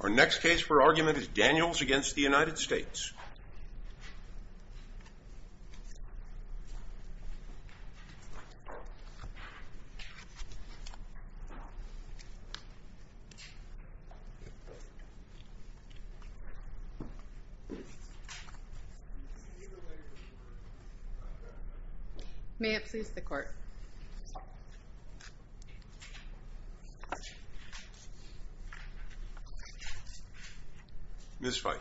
Our next case for argument is Daniels v. United States May it please the Court Ms. Feit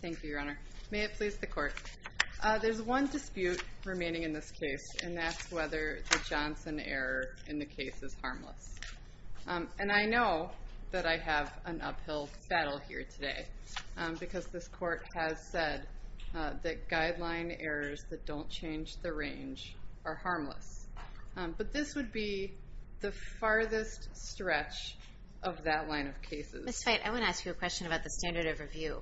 Thank you, Your Honor. May it please the Court There's one dispute remaining in this case and that's whether the Johnson error in the case is harmless And I know that I have an uphill battle here today because this Court has said that guideline errors that don't change the range are harmless But this would be the farthest stretch of that line of cases Ms. Feit, I want to ask you a question about the standard of review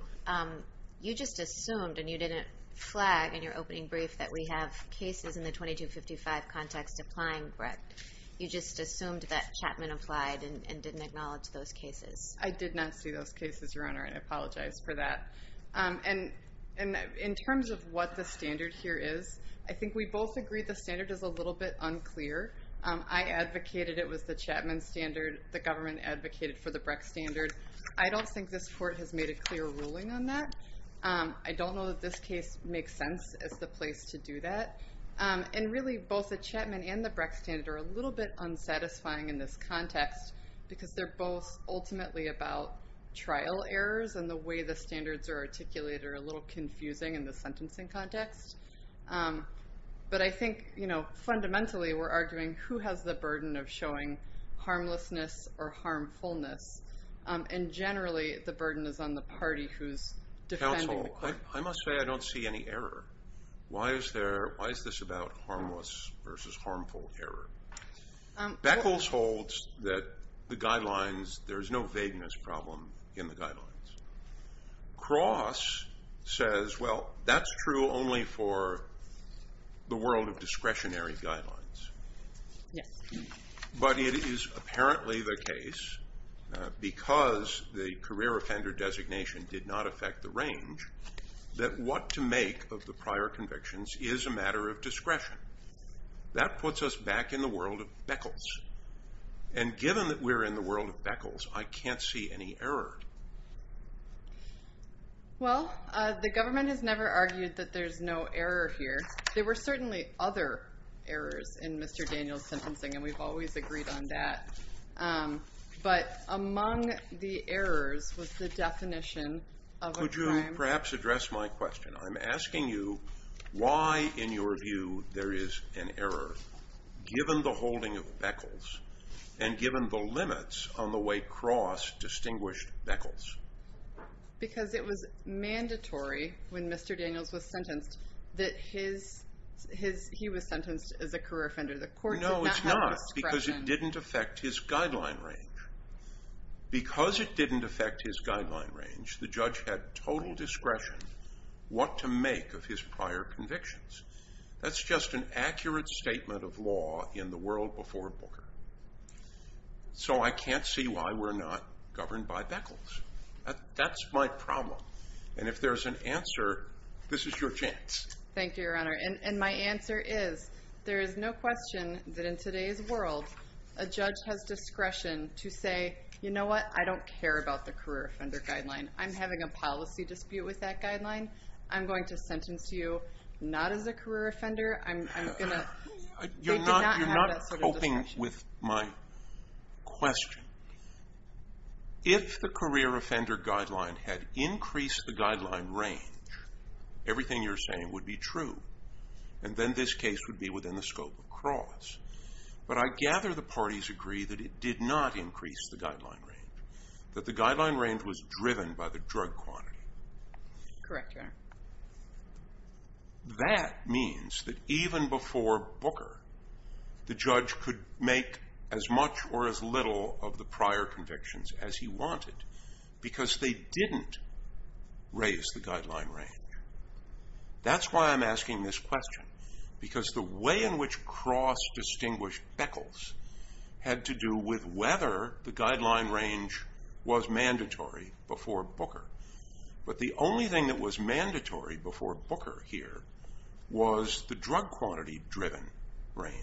You just assumed, and you didn't flag in your opening brief that we have cases in the 2255 context applying, correct? You just assumed that Chapman applied and didn't acknowledge those cases I did not see those cases, Your Honor, and I apologize for that And in terms of what the standard here is, I think we both agree the standard is a little bit unclear I advocated it was the Chapman standard, the government advocated for the Brecht standard I don't think this Court has made a clear ruling on that I don't know that this case makes sense as the place to do that And really, both the Chapman and the Brecht standard are a little bit unsatisfying in this context because they're both ultimately about trial errors and the way the standards are articulated are a little confusing in the sentencing context But I think fundamentally we're arguing who has the burden of showing harmlessness or harmfulness And generally the burden is on the party who's defending the claim Counsel, I must say I don't see any error Why is this about harmless versus harmful error? Beckles holds that the guidelines, there's no vagueness problem in the guidelines Cross says, well, that's true only for the world of discretionary guidelines But it is apparently the case, because the career offender designation did not affect the range that what to make of the prior convictions is a matter of discretion That puts us back in the world of Beckles And given that we're in the world of Beckles, I can't see any error Well, the government has never argued that there's no error here There were certainly other errors in Mr. Daniel's sentencing and we've always agreed on that But among the errors was the definition of a crime Could you perhaps address my question? I'm asking you why in your view there is an error given the holding of Beckles And given the limits on the way Cross distinguished Beckles Because it was mandatory when Mr. Daniels was sentenced that he was sentenced as a career offender No, it's not, because it didn't affect his guideline range Because it didn't affect his guideline range, the judge had total discretion What to make of his prior convictions That's just an accurate statement of law in the world before Booker So I can't see why we're not governed by Beckles That's my problem And if there's an answer, this is your chance Thank you, Your Honor And my answer is, there is no question that in today's world A judge has discretion to say, you know what, I don't care about the career offender guideline I'm having a policy dispute with that guideline I'm going to sentence you not as a career offender They did not have that sort of discretion You're not coping with my question If the career offender guideline had increased the guideline range Everything you're saying would be true And then this case would be within the scope of Cross But I gather the parties agree that it did not increase the guideline range That the guideline range was driven by the drug quantity Correct, Your Honor That means that even before Booker The judge could make as much or as little of the prior convictions as he wanted Because they didn't raise the guideline range That's why I'm asking this question Because the way in which Cross distinguished Beckles Had to do with whether the guideline range was mandatory before Booker But the only thing that was mandatory before Booker here Was the drug quantity driven range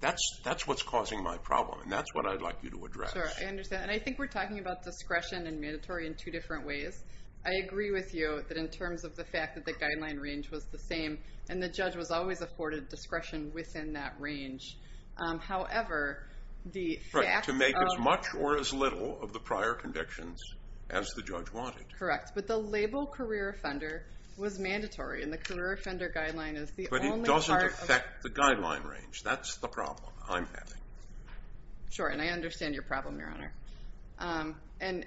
That's what's causing my problem And that's what I'd like you to address Sure, I understand And I think we're talking about discretion and mandatory in two different ways I agree with you that in terms of the fact that the guideline range was the same And the judge was always afforded discretion within that range However, the facts of To make as much or as little of the prior convictions as the judge wanted Correct, but the label career offender was mandatory And the career offender guideline is the only part But it doesn't affect the guideline range That's the problem I'm having Sure, and I understand your problem, Your Honor And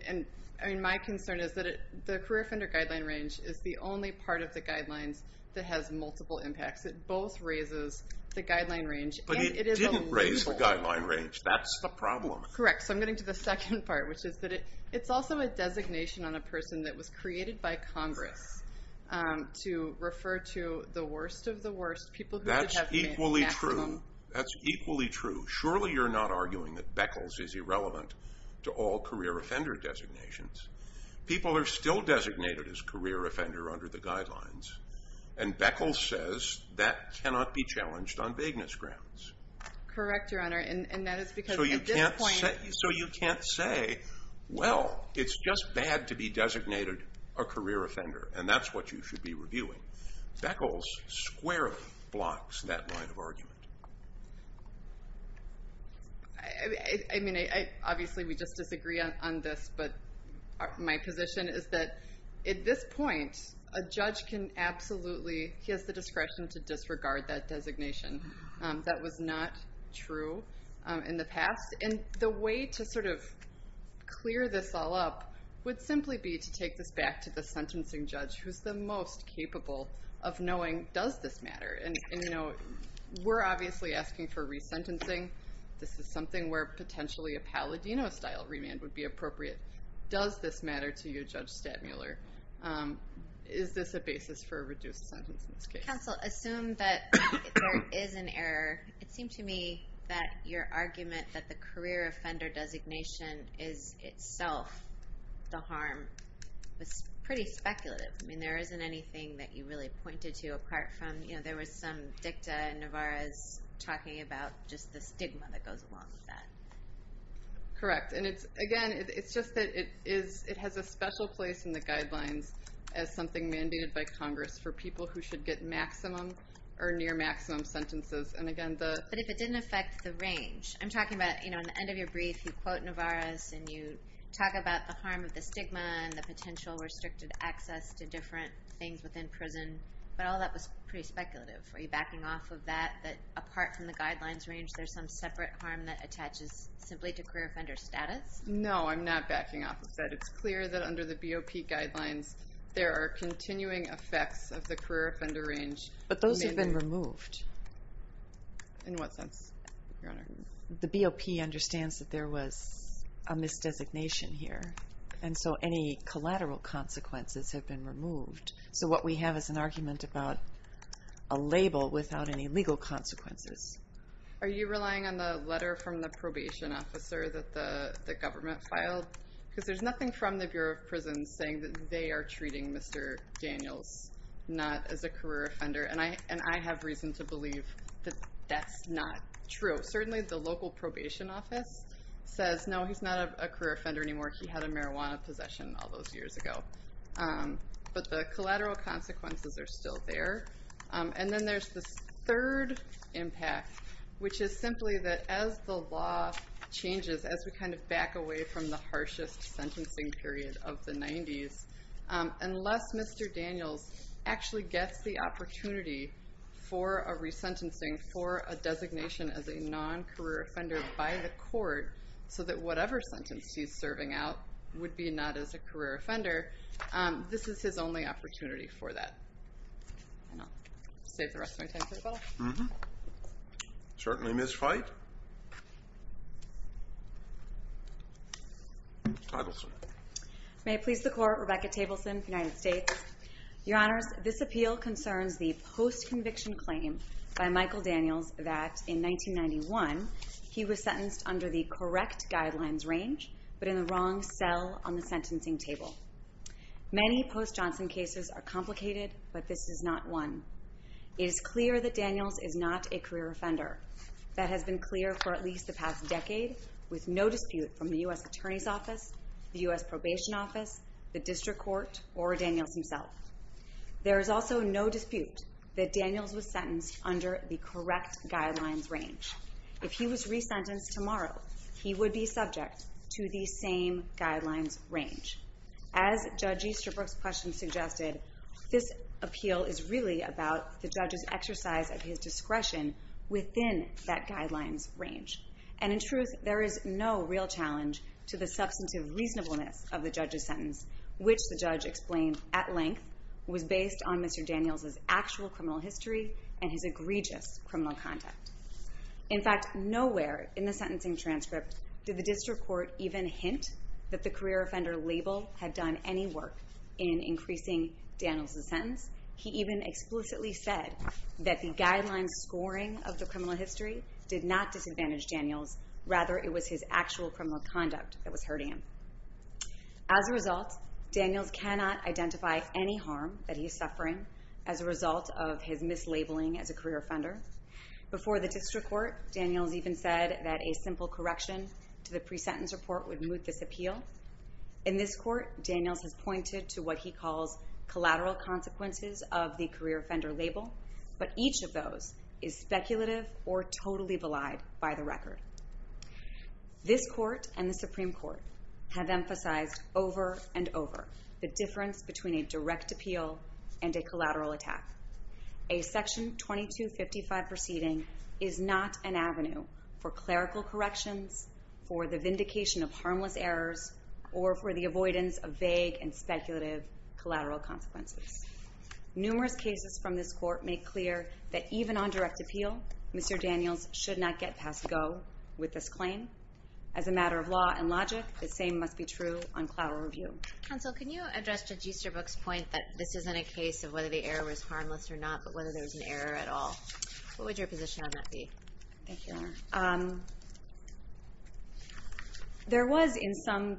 my concern is that the career offender guideline range Is the only part of the guidelines that has multiple impacts It both raises the guideline range But it didn't raise the guideline range That's the problem Correct, so I'm getting to the second part Which is that it's also a designation on a person that was created by Congress To refer to the worst of the worst That's equally true That's equally true Surely you're not arguing that Beckles is irrelevant To all career offender designations People are still designated as career offender under the guidelines And Beckles says that cannot be challenged on vagueness grounds Correct, Your Honor, and that is because at this point So you can't say Well, it's just bad to be designated a career offender And that's what you should be reviewing Beckles squarely blocks that line of argument I mean, obviously we just disagree on this But my position is that At this point, a judge can absolutely He has the discretion to disregard that designation That was not true in the past And the way to sort of clear this all up Would simply be to take this back to the sentencing judge Who's the most capable of knowing does this matter And, you know, we're obviously asking for resentencing This is something where potentially A Palladino-style remand would be appropriate Does this matter to you, Judge Stadmuller? Is this a basis for a reduced sentence in this case? Counsel, assume that there is an error It seemed to me that your argument That the career offender designation is itself the harm Was pretty speculative I mean, there isn't anything that you really pointed to Apart from, you know, there was some dicta And Navarez talking about just the stigma that goes along with that Correct, and it's, again, it's just that it is It has a special place in the guidelines As something mandated by Congress For people who should get maximum Or near-maximum sentences But if it didn't affect the range I'm talking about, you know, at the end of your brief You quote Navarez and you talk about the harm of the stigma And the potential restricted access To different things within prison But all that was pretty speculative Are you backing off of that? That apart from the guidelines range There's some separate harm that attaches Simply to career offender status? No, I'm not backing off of that It's clear that under the BOP guidelines There are continuing effects of the career offender range But those have been removed In what sense, Your Honor? The BOP understands that there was a misdesignation here And so any collateral consequences have been removed So what we have is an argument about A label without any legal consequences Are you relying on the letter from the probation officer That the government filed? Because there's nothing from the Bureau of Prisons Saying that they are treating Mr. Daniels Not as a career offender And I have reason to believe that that's not true Certainly the local probation office Says, no, he's not a career offender anymore He had a marijuana possession all those years ago But the collateral consequences are still there And then there's this third impact Which is simply that as the law changes As we kind of back away from the harshest Sentencing period of the 90s Unless Mr. Daniels actually gets the opportunity For a resentencing For a designation as a non-career offender by the court So that whatever sentence he's serving out Would be not as a career offender This is his only opportunity for that And I'll save the rest of my time for the bottle Mm-hmm Certainly, Ms. Feit Tableson May it please the Court Rebecca Tableson, United States Your Honors, this appeal concerns The post-conviction claim by Michael Daniels That in 1991 He was sentenced under the correct guidelines range But in the wrong cell on the sentencing table Many post-Johnson cases are complicated But this is not one It is clear that Daniels is not a career offender That has been clear for at least the past decade With no dispute from the U.S. Attorney's Office The U.S. Probation Office The District Court Or Daniels himself There is also no dispute That Daniels was sentenced under the correct guidelines range If he was resentenced tomorrow He would be subject to the same guidelines range As Judge Easterbrook's question suggested This appeal is really about The judge's exercise of his discretion Within that guidelines range And in truth, there is no real challenge To the substantive reasonableness Of the judge's sentence Which the judge explained at length Was based on Mr. Daniels' actual criminal history And his egregious criminal conduct In fact, nowhere in the sentencing transcript Did the District Court even hint That the career offender label had done any work In increasing Daniels' sentence He even explicitly said That the guidelines scoring of the criminal history Did not disadvantage Daniels Rather, it was his actual criminal conduct That was hurting him As a result, Daniels cannot identify any harm That he is suffering As a result of his mislabeling as a career offender Before the District Court, Daniels even said That a simple correction to the pre-sentence report Would moot this appeal In this court, Daniels has pointed to what he calls Collateral consequences of the career offender label But each of those is speculative Or totally vallied by the record This court and the Supreme Court Have emphasized over and over The difference between a direct appeal And a collateral attack A section 2255 proceeding Is not an avenue For clerical corrections For the vindication of harmless errors Or for the avoidance of vague and speculative Collateral consequences Numerous cases from this court make clear That even on direct appeal Mr. Daniels should not get past go With this claim As a matter of law and logic The same must be true on collateral review Counsel, can you address Judge Easterbrook's point That this isn't a case of whether the error was harmless or not But whether there was an error at all What would your position on that be? Thank you, Your Honor There was, in some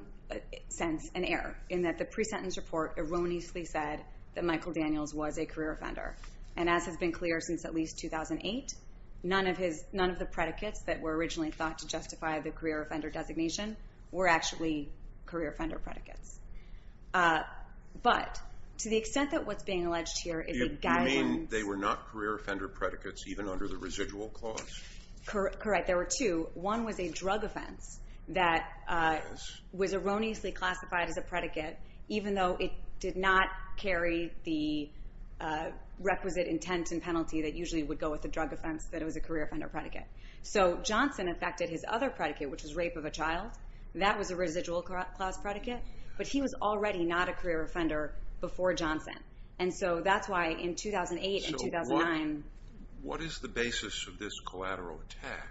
sense, an error In that the pre-sentence report erroneously said That Michael Daniels was a career offender And as has been clear since at least 2008 None of the predicates that were originally thought to justify The career offender designation Were actually career offender predicates But to the extent that what's being alleged here You mean they were not career offender predicates Even under the residual clause? Correct, there were two One was a drug offense That was erroneously classified as a predicate Even though it did not carry The requisite intent and penalty That usually would go with the drug offense That it was a career offender predicate So Johnson affected his other predicate Which was rape of a child That was a residual clause predicate But he was already not a career offender Before Johnson And so that's why in 2008 and 2009 So what is the basis of this collateral attack?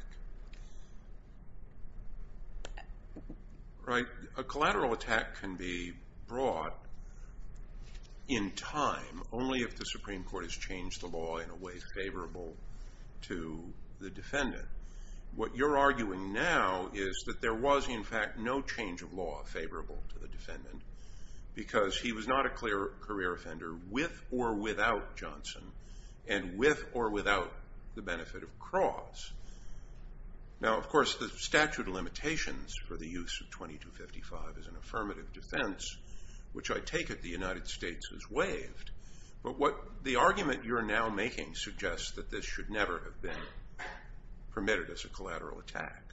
A collateral attack can be brought In time Only if the Supreme Court has changed the law In a way favorable to the defendant What you're arguing now Is that there was in fact no change of law Favorable to the defendant Because he was not a career offender With or without Johnson And with or without the benefit of clause Now of course the statute of limitations For the use of 2255 Is an affirmative defense Which I take it the United States has waived But what the argument you're now making Suggests that this should never have been Permitted as a collateral attack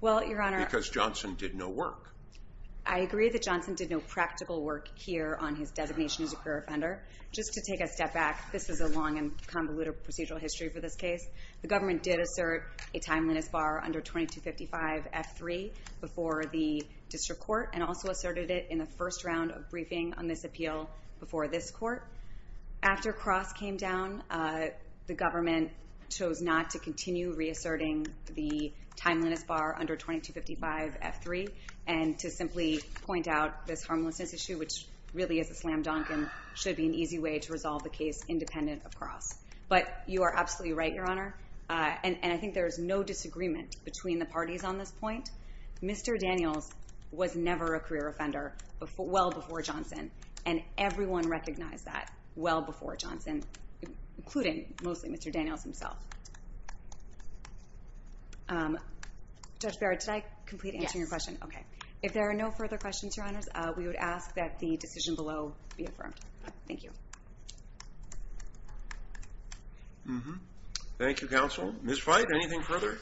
Because Johnson did no work I agree that Johnson did no practical work Here on his designation as a career offender Just to take a step back This is a long and convoluted procedural history For this case The government did assert a timeliness bar Under 2255 F3 Before the district court And also asserted it in the first round of briefing On this appeal before this court After Cross came down The government chose not to continue Reasserting the timeliness bar Under 2255 F3 And to simply point out This harmlessness issue Which really is a slam dunk And should be an easy way to resolve the case Independent of Cross But you are absolutely right your honor And I think there is no disagreement Between the parties on this point Mr. Daniels was never a career offender Well before Johnson And everyone recognized that Well before Johnson Including mostly Mr. Daniels himself Judge Barrett Did I complete answering your question? Yes Okay If there are no further questions your honors We would ask that the decision below Be affirmed Thank you Thank you counsel Ms. White anything further?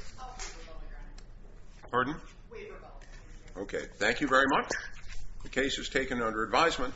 Pardon? Okay Thank you very much The case is taken under advisement